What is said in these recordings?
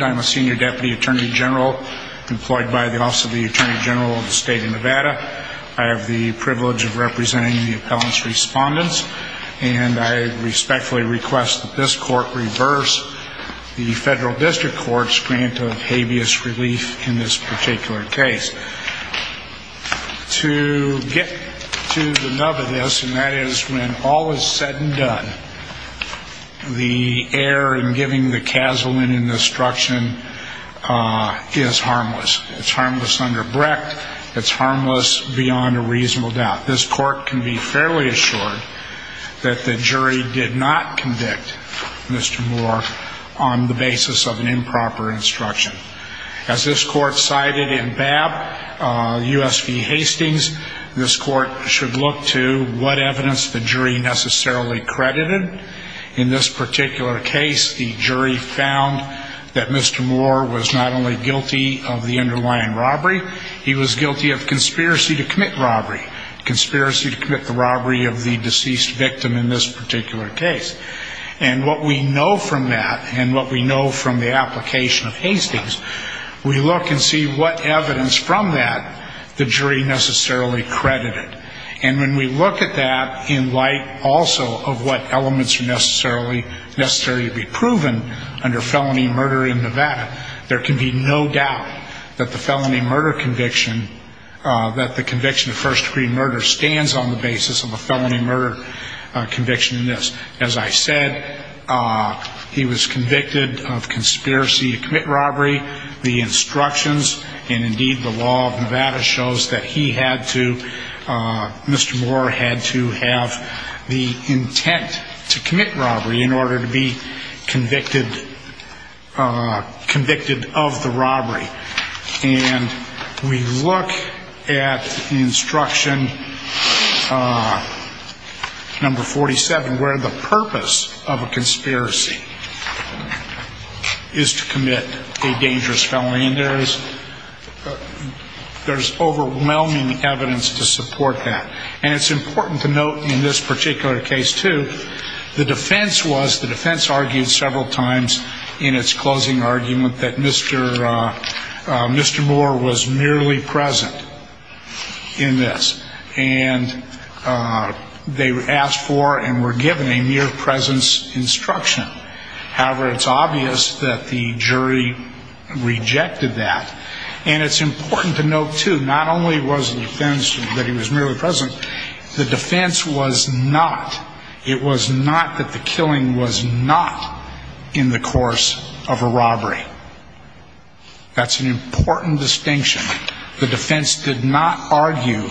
I'm a senior deputy attorney general employed by the Office of the Attorney General of the State of Nevada. I have the privilege of representing the appellant's respondents. And I respectfully request that this court reverse the federal district court's grant of habeas relief in this particular case. To get to the nub of this, and that is when all is said and done, the error in giving the casulant an instruction is harmless. It's harmless under Brecht. It's harmless beyond a reasonable doubt. This court can be fairly assured that the jury did not convict Mr. Moore on the basis of an improper instruction. As this court cited in Babb U.S. v. Hastings, this court should look to what evidence the jury necessarily credited. In this particular case, the jury found that Mr. Moore was not only guilty of the underlying robbery, he was guilty of conspiracy to commit robbery. Conspiracy to commit the robbery of the deceased victim in this particular case. And what we know from that, and what we know from the application of Hastings, we look and see what evidence from that the jury necessarily credited. And when we look at that in light also of what elements are necessarily to be proven under felony murder in Nevada, there can be no doubt that the felony murder conviction, that the conviction of first degree murder stands on the basis of a felony murder conviction in this. As I said, he was convicted of conspiracy to commit robbery. The instructions and indeed the law of Nevada shows that he had to, Mr. Moore had to have the intent to commit robbery in order to be convicted of the robbery. And we look at instruction number 47 where the purpose of a conspiracy is to commit a dangerous felony. And there's overwhelming evidence to support that. And it's important to note in this particular case too, the defense was, the defense argued several times in its closing argument that Mr. Moore was merely present in this. And they asked for and were given a mere presence instruction. However, it's obvious that the jury rejected that. And it's important to note too, not only was the defense that he was merely present, the defense was not, it was not that the killing was not in the course of a robbery. That's an important distinction. The defense did not argue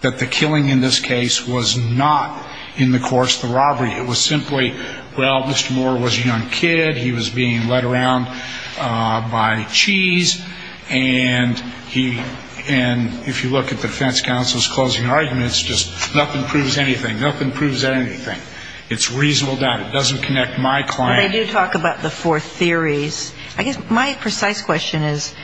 that the killing in this case was not in the course of the robbery. It was simply, well, Mr. Moore was a young kid. He was being led around by cheese. And he, and if you look at the defense counsel's closing arguments, just nothing proves anything. Nothing proves anything. It's reasonable doubt. It doesn't connect my claim. But they do talk about the four theories. I guess my precise question is,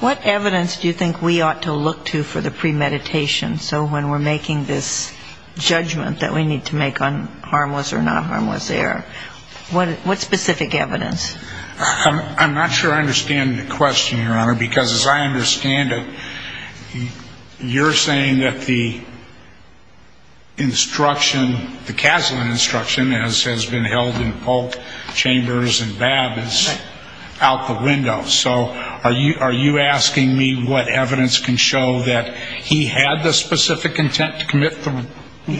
what evidence do you think we ought to look to for the premeditation? So when we're making this judgment that we need to make on harmless or not harmless error, what specific evidence? I'm not sure I understand the question, Your Honor, because as I understand it, you're saying that the instruction, the Kaslan instruction as has been held in Polk, Chambers, and Babb is out the window. So are you asking me what evidence can show that he had the specific intent to commit the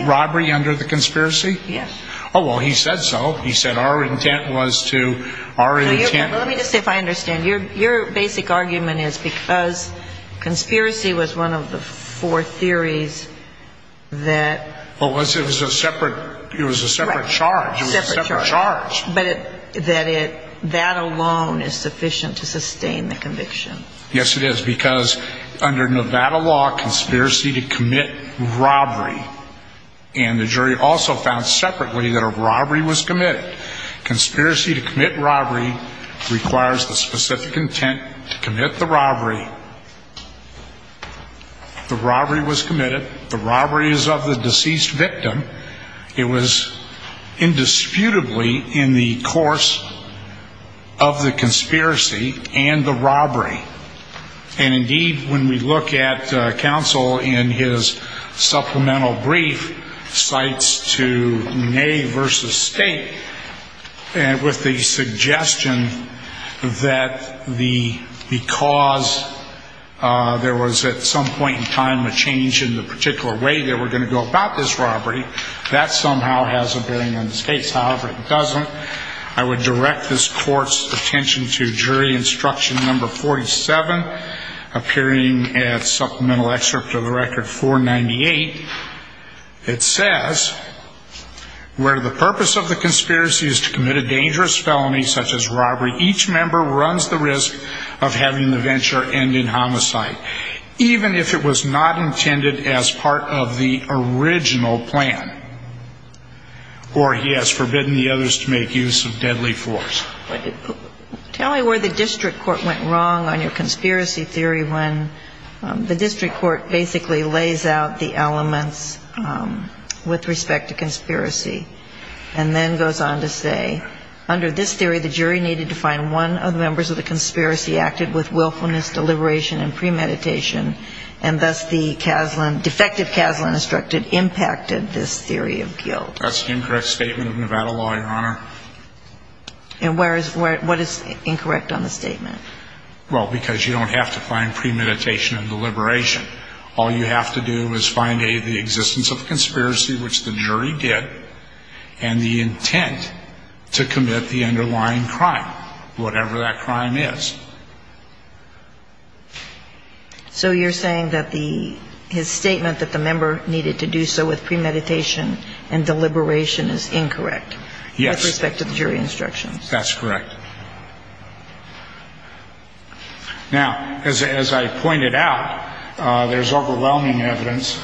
robbery under the conspiracy? Yes. Oh, well, he said so. He said our intent was to, our intent was. Let me just see if I understand. Your basic argument is because conspiracy was one of the four theories that. Well, it was a separate charge. It was a separate charge. But that alone is sufficient to sustain the conviction. Yes, it is. Because under Nevada law, conspiracy to commit robbery. And the jury also found separately that a robbery was committed. Conspiracy to commit robbery requires the specific intent to commit the robbery. The robbery was committed. The robbery is of the deceased victim. It was indisputably in the course of the conspiracy and the robbery. And, indeed, when we look at counsel in his supplemental brief, cites to Ney v. State with the suggestion that because there was at some point in time a change in the particular way they were going to go about this robbery, that somehow has a bearing on this case. However, it doesn't. I would direct this court's attention to jury instruction number 47, appearing at supplemental excerpt of the record 498. It says, where the purpose of the conspiracy is to commit a dangerous felony such as robbery, each member runs the risk of having the venture end in homicide, even if it was not intended as part of the original plan. Or, he has forbidden the others to make use of deadly force. Tell me where the district court went wrong on your conspiracy theory when the district court basically lays out the elements with respect to conspiracy and then goes on to say, under this theory, the jury needed to find one of the members of the conspiracy acted with willfulness, deliberation, and premeditation, and thus the defective Kaslan instructed impacted this theory of guilt. That's the incorrect statement of Nevada law, Your Honor. And what is incorrect on the statement? Well, because you don't have to find premeditation and deliberation. All you have to do is find A, the existence of the conspiracy, which the jury did, and the intent to commit the underlying crime, whatever that crime is. So you're saying that his statement that the member needed to do so with premeditation and deliberation is incorrect? Yes. With respect to the jury instructions. That's correct. Now, as I pointed out, there's overwhelming evidence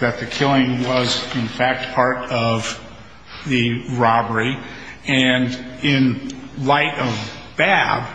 that the killing was, in fact, part of the robbery. And in light of BAB,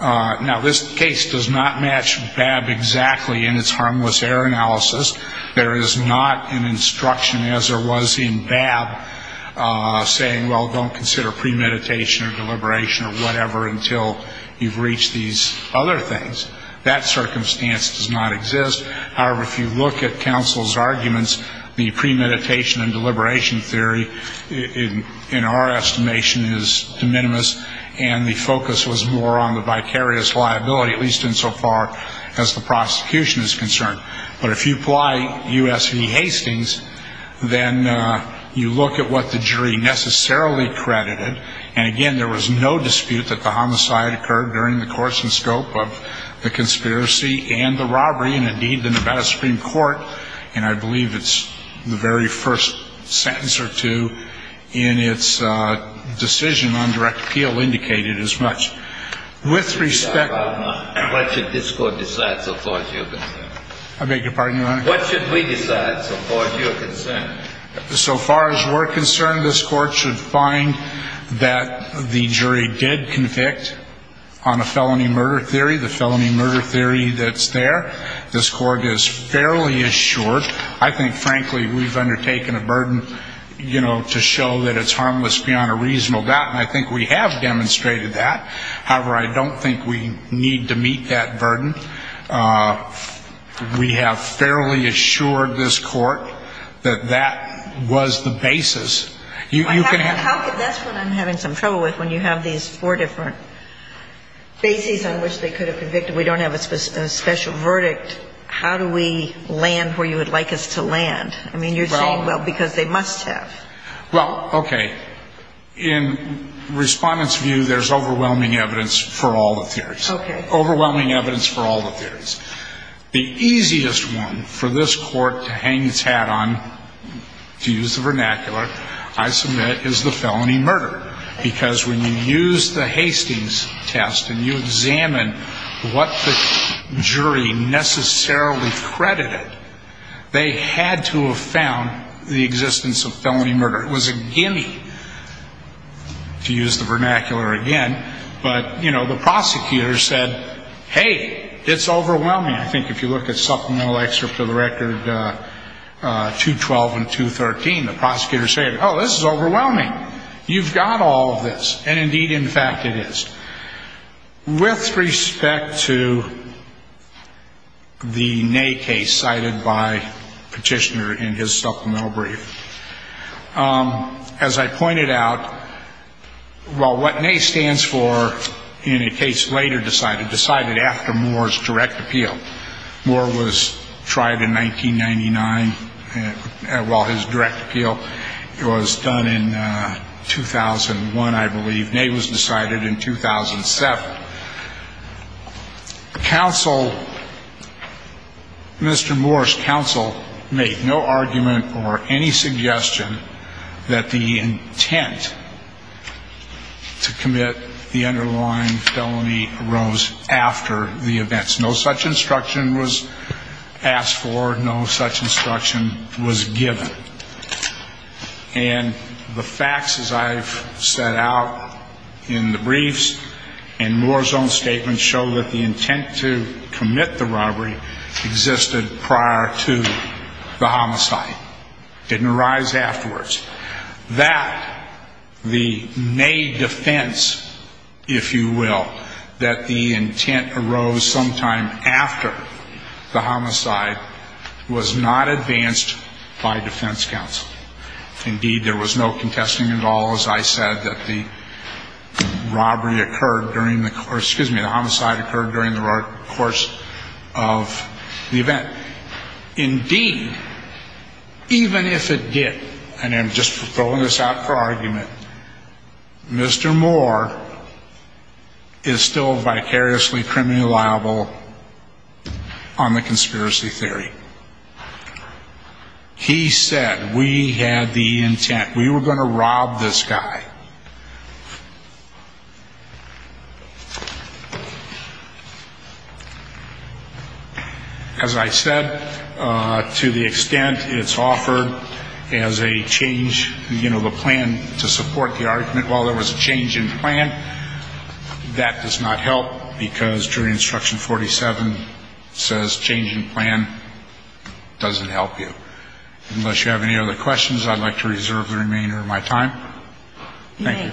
now, this case does not match BAB exactly in its harmless error analysis. There is not an instruction as there was in BAB saying, well, don't consider premeditation or deliberation or whatever until you've reached these other things. That circumstance does not exist. However, if you look at counsel's arguments, the premeditation and deliberation theory, in our estimation, is de minimis. And the focus was more on the vicarious liability, at least insofar as the prosecution is concerned. But if you apply U.S. v. Hastings, then you look at what the jury necessarily credited. And, again, there was no dispute that the homicide occurred during the course and scope of the conspiracy and the robbery. And, indeed, the Nevada Supreme Court, and I believe it's the very first sentence or two in its decision on direct appeal, indicated as much. With respect to the jury. What should this Court decide so far as you're concerned? I beg your pardon, Your Honor? What should we decide so far as you're concerned? So far as we're concerned, this Court should find that the jury did convict on a felony murder theory, the felony murder theory that's there. This Court is fairly assured. I think, frankly, we've undertaken a burden, you know, to show that it's harmless beyond a reasonable doubt. And I think we have demonstrated that. However, I don't think we need to meet that burden. We have fairly assured this Court that that was the basis. That's what I'm having some trouble with when you have these four different bases on which they could have convicted. We don't have a special verdict. How do we land where you would like us to land? I mean, you're saying, well, because they must have. Well, okay. In Respondent's view, there's overwhelming evidence for all the theories. Okay. Overwhelming evidence for all the theories. The easiest one for this Court to hang its hat on, to use the vernacular, I submit, is the felony murder. Because when you use the Hastings test and you examine what the jury necessarily credited, they had to have found the existence of felony murder. It was a guinea, to use the vernacular again. But, you know, the prosecutor said, hey, it's overwhelming. I think if you look at supplemental excerpt of the record 212 and 213, the prosecutor said, oh, this is overwhelming. You've got all of this. And, indeed, in fact, it is. With respect to the NAY case cited by Petitioner in his supplemental brief, as I pointed out, well, what NAY stands for in a case later decided, decided after Moore's direct appeal. Moore was tried in 1999 while his direct appeal was done in 2001, I believe. NAY was decided in 2007. But counsel, Mr. Moore's counsel, made no argument or any suggestion that the intent to commit the underlying felony arose after the events. No such instruction was asked for. No such instruction was given. And the facts, as I've set out in the briefs and Moore's own statements, show that the intent to commit the robbery existed prior to the homicide. It didn't arise afterwards. That the NAY defense, if you will, that the intent arose sometime after the homicide was not advanced by defense counsel. Indeed, there was no contesting at all, as I said, that the robbery occurred during the course, excuse me, the homicide occurred during the course of the event. Indeed, even if it did, and I'm just throwing this out for argument, Mr. Moore is still vicariously criminally liable on the conspiracy theory. He said, we had the intent, we were going to rob this guy. As I said, to the extent it's offered as a change, you know, the plan to support the argument, while there was a change in plan, that does not help because jury instruction 47 says change in plan doesn't help you. Unless you have any other questions, I'd like to reserve the remainder of my time. Thank you.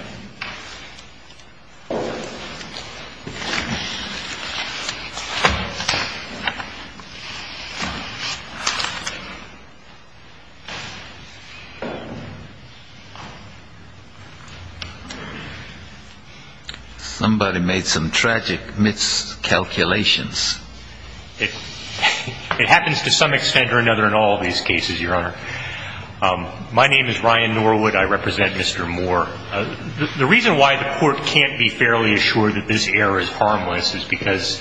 Somebody made some tragic miscalculations. It happens to some extent or another in all of these cases, Your Honor. My name is Ryan Norwood. I represent Mr. Moore. The reason why the court can't be fairly assured that this error is harmless is because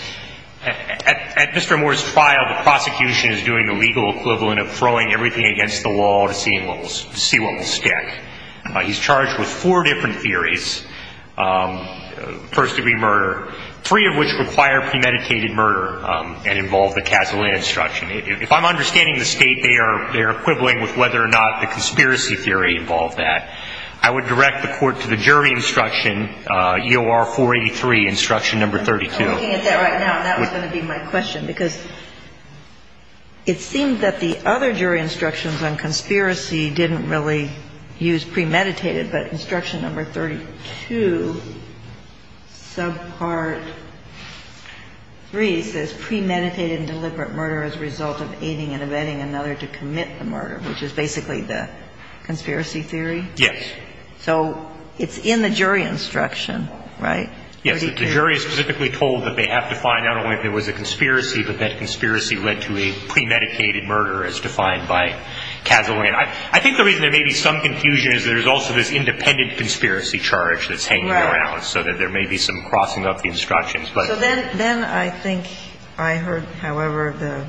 at Mr. Moore's trial, the prosecution is doing the legal equivalent of throwing everything against the wall to see what will stick. He's charged with four different theories, first-degree murder, three of which require premeditated murder and involve the Casolet instruction. If I'm understanding the state, they are equivalent with whether or not the conspiracy theory involved that. I would direct the court to the jury instruction, EOR 483, instruction number 32. I'm looking at that right now, and that was going to be my question because it seemed that the other jury instructions on conspiracy didn't really use premeditated. But instruction number 32, subpart 3, says premeditated and deliberate murder as a result of aiding and abetting another to commit the murder, which is basically the conspiracy theory? Yes. So it's in the jury instruction, right? Yes. The jury is specifically told that they have to find out if it was a conspiracy, but that conspiracy led to a premeditated murder as defined by Casolet. I think the reason there may be some confusion is that there's also this independent conspiracy charge that's hanging around, so that there may be some crossing up the instructions. So then I think I heard, however, the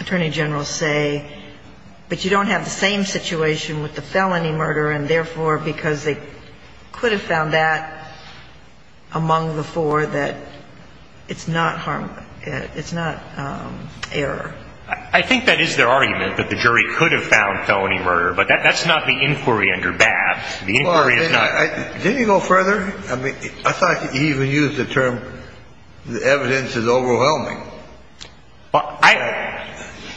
Attorney General say, but you don't have the same situation with the felony murder, and therefore, because they could have found that among the four, that it's not harm, it's not error. I think that is their argument, that the jury could have found felony murder, but that's not the inquiry under Babb. The inquiry is not. Didn't he go further? I mean, I thought he even used the term the evidence is overwhelming. Well, I.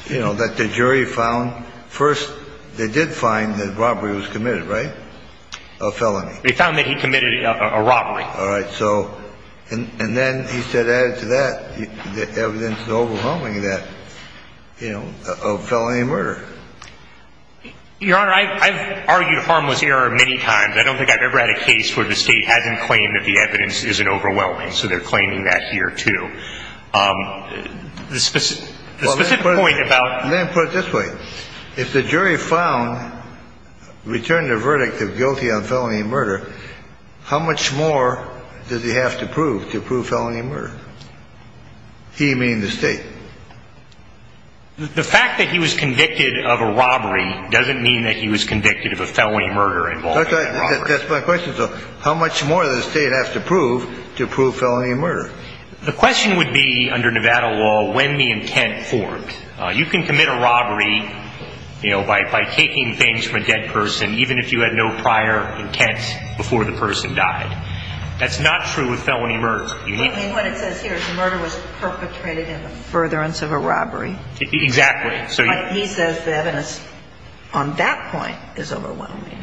You know, that the jury found first they did find that robbery was committed, right, a felony. They found that he committed a robbery. All right. So and then he said added to that, the evidence is overwhelming that, you know, a felony murder. Your Honor, I've argued harmless error many times. I don't think I've ever had a case where the State hasn't claimed that the evidence isn't overwhelming. So they're claiming that here, too. The specific point about. Let me put it this way. If the jury found, returned a verdict of guilty on felony murder, how much more does he have to prove to prove felony murder? He, meaning the State. The fact that he was convicted of a robbery doesn't mean that he was convicted of a felony murder involving a robbery. That's my question. So how much more does the State have to prove to prove felony murder? The question would be, under Nevada law, when the intent formed. You can commit a robbery, you know, by taking things from a dead person, even if you had no prior intent before the person died. That's not true with felony murder. I mean, what it says here is the murder was perpetrated in the furtherance of a robbery. Exactly. He says the evidence on that point is overwhelming.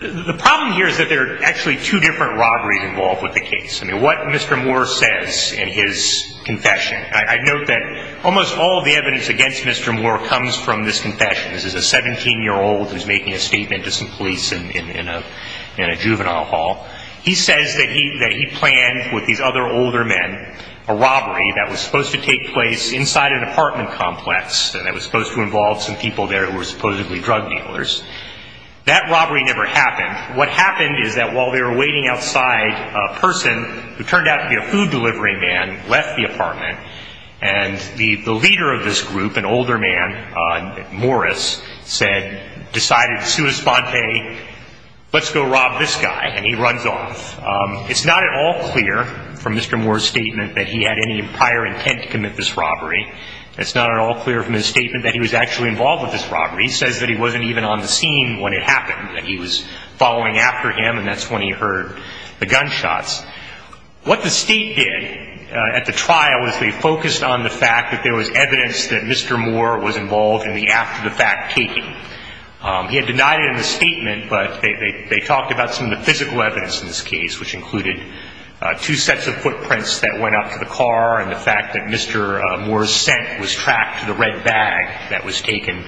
The problem here is that there are actually two different robberies involved with the case. I mean, what Mr. Moore says in his confession. I note that almost all of the evidence against Mr. Moore comes from this confession. This is a 17-year-old who's making a statement to some police in a juvenile hall. He says that he planned with these other older men a robbery that was supposed to take place inside an apartment complex and that was supposed to involve some people there who were supposedly drug dealers. That robbery never happened. What happened is that while they were waiting outside, a person who turned out to be a food delivery man left the apartment and the leader of this group, an older man, Morris, said, decided, sui sponte, let's go rob this guy, and he runs off. It's not at all clear from Mr. Moore's statement that he had any prior intent to commit this robbery. It's not at all clear from his statement that he was actually involved with this robbery. He says that he wasn't even on the scene when it happened, that he was following after him, and that's when he heard the gunshots. What the State did at the trial was they focused on the fact that there was evidence that Mr. Moore was involved in the after-the-fact taking. He had denied it in the statement, but they talked about some of the physical evidence in this case, which included two sets of footprints that went up to the car and the fact that Mr. Moore's scent was tracked to the red bag that was taken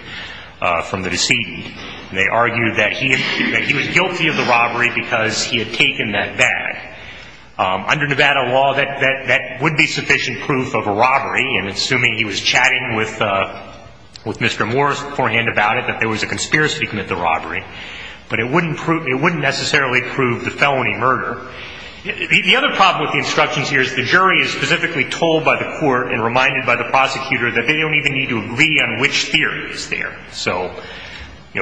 from the decedent. They argued that he was guilty of the robbery because he had taken that bag. Under Nevada law, that would be sufficient proof of a robbery, and assuming he was chatting with Mr. Moore beforehand about it, that there was a conspiracy to commit the robbery. But it wouldn't necessarily prove the felony murder. The other problem with the instructions here is the jury is specifically told by the court and reminded by the prosecutor that they don't even need to agree on which theory is there. So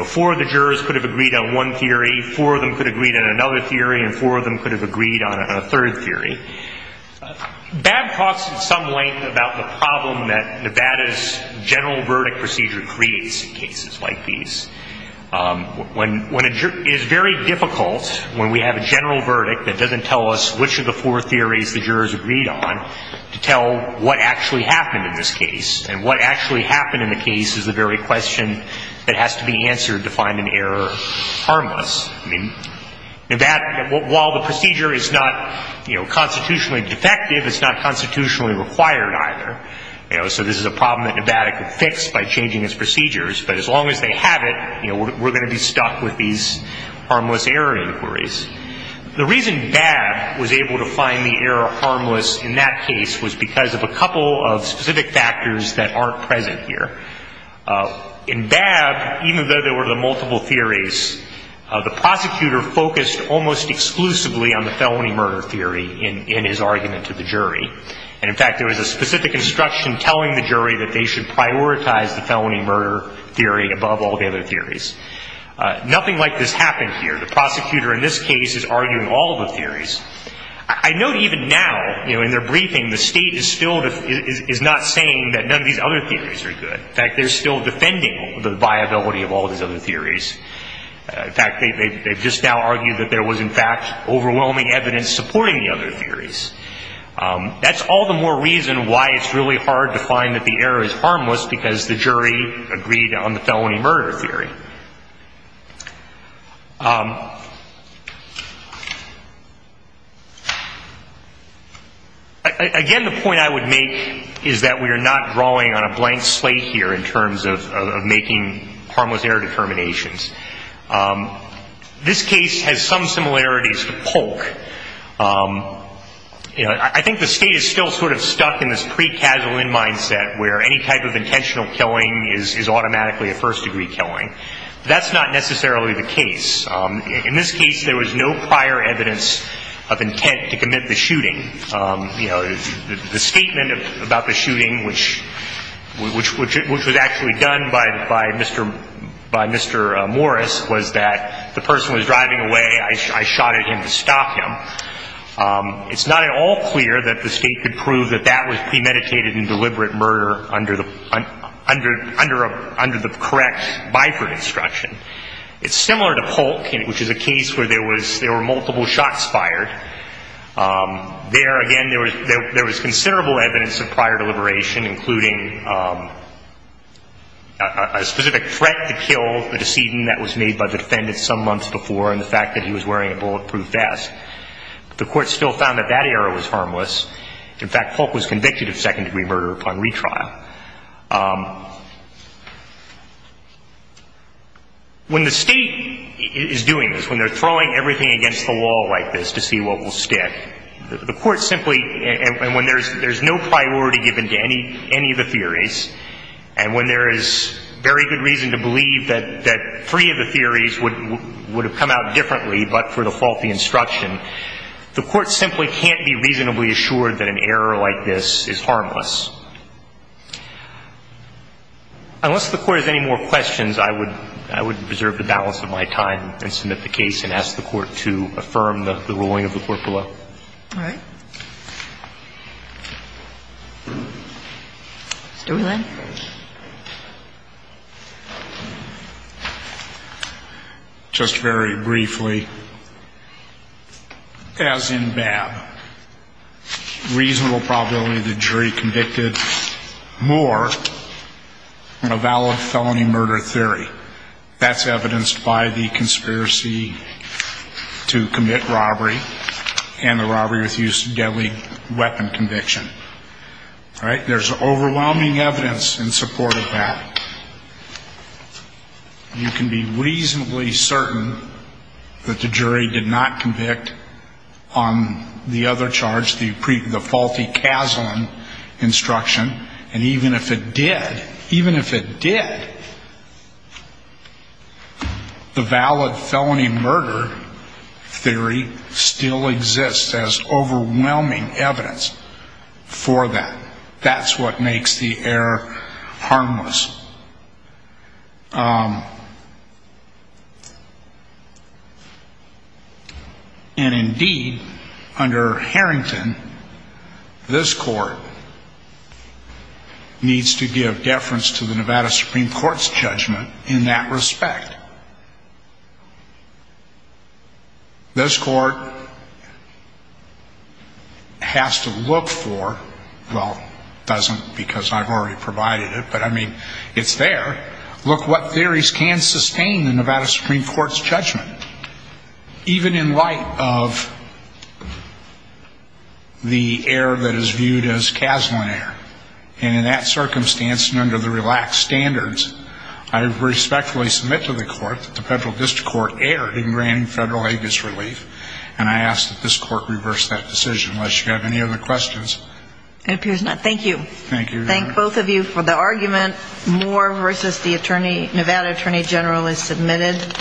four of the jurors could have agreed on one theory, four of them could have agreed on another theory, and four of them could have agreed on a third theory. Babb talks at some length about the problem that Nevada's general verdict procedure creates in cases like these. It is very difficult when we have a general verdict that doesn't tell us which of the four theories the jurors agreed on to tell what actually happened in this case, and what actually happened in the case is the very question that has to be answered to find an error harmless. I mean, Nevada, while the procedure is not constitutionally defective, it's not constitutionally required either. So this is a problem that Nevada could fix by changing its procedures, but as long as they have it, we're going to be stuck with these harmless error inquiries. The reason Babb was able to find the error harmless in that case was because of a couple of specific factors that aren't present here. In Babb, even though there were the multiple theories, the prosecutor focused almost exclusively on the felony murder theory in his argument to the jury. And, in fact, there was a specific instruction telling the jury that they should prioritize the felony murder theory above all the other theories. Nothing like this happened here. The prosecutor in this case is arguing all the theories. I note even now, you know, in their briefing, the State is still not saying that none of these other theories are good. In fact, they're still defending the viability of all these other theories. In fact, they've just now argued that there was, in fact, overwhelming evidence supporting the other theories. That's all the more reason why it's really hard to find that the error is harmless, because the jury agreed on the felony murder theory. Again, the point I would make is that we are not drawing on a blank slate here in terms of making harmless error determinations. This case has some similarities to Polk. You know, I think the State is still sort of stuck in this pre-Kazalin mindset, where any type of intentional killing is automatically a first-degree killing. That's not necessarily the case. In this case, there was no prior evidence of intent to commit the shooting. You know, the statement about the shooting, which was actually done by Mr. Morris, was that the person was driving away. I shot at him to stop him. It's not at all clear that the State could prove that that was premeditated and deliberate murder under the correct Biford instruction. It's similar to Polk, which is a case where there were multiple shots fired. There, again, there was considerable evidence of prior deliberation, including a specific threat to kill, the decision that was made by the defendant some months before, and the fact that he was wearing a bulletproof vest. The Court still found that that error was harmless. In fact, Polk was convicted of second-degree murder upon retrial. When the State is doing this, when they're throwing everything against the wall like this to see what will stick, the Court simply, and when there's no priority given to any of the theories, and when there is very good reason to believe that three of the theories would have come out differently but for the fault of the instruction, the Court simply can't be reasonably assured that an error like this is harmless. Unless the Court has any more questions, I would preserve the balance of my time and submit the case and ask the Court to affirm the ruling of the Court below. All right. Mr. Whelan. Thank you. Just very briefly, as in BAB, reasonable probability the jury convicted Moore on a valid felony murder theory. That's evidenced by the conspiracy to commit robbery and the robbery with use of deadly weapon conviction. All right. There's overwhelming evidence in support of that. You can be reasonably certain that the jury did not convict on the other charge, the faulty CASLIN instruction, and even if it did, even if it did, the valid felony murder theory still exists as overwhelming evidence for that. That's what makes the error harmless. And, indeed, under Harrington, this Court needs to give deference to the Nevada Supreme Court's judgment in that respect. This Court has to look for, well, doesn't because I've already provided it, but, I mean, it's there, look what theories can sustain the Nevada Supreme Court's judgment, even in light of the error that is viewed as CASLIN error. And in that circumstance and under the relaxed standards, I respectfully submit to the Court that the Federal District Court erred in granting federal aid disrelief, and I ask that this Court reverse that decision unless you have any other questions. It appears not. Thank you. Thank you. Thank both of you for the argument. Moore v. The Nevada Attorney General is submitted.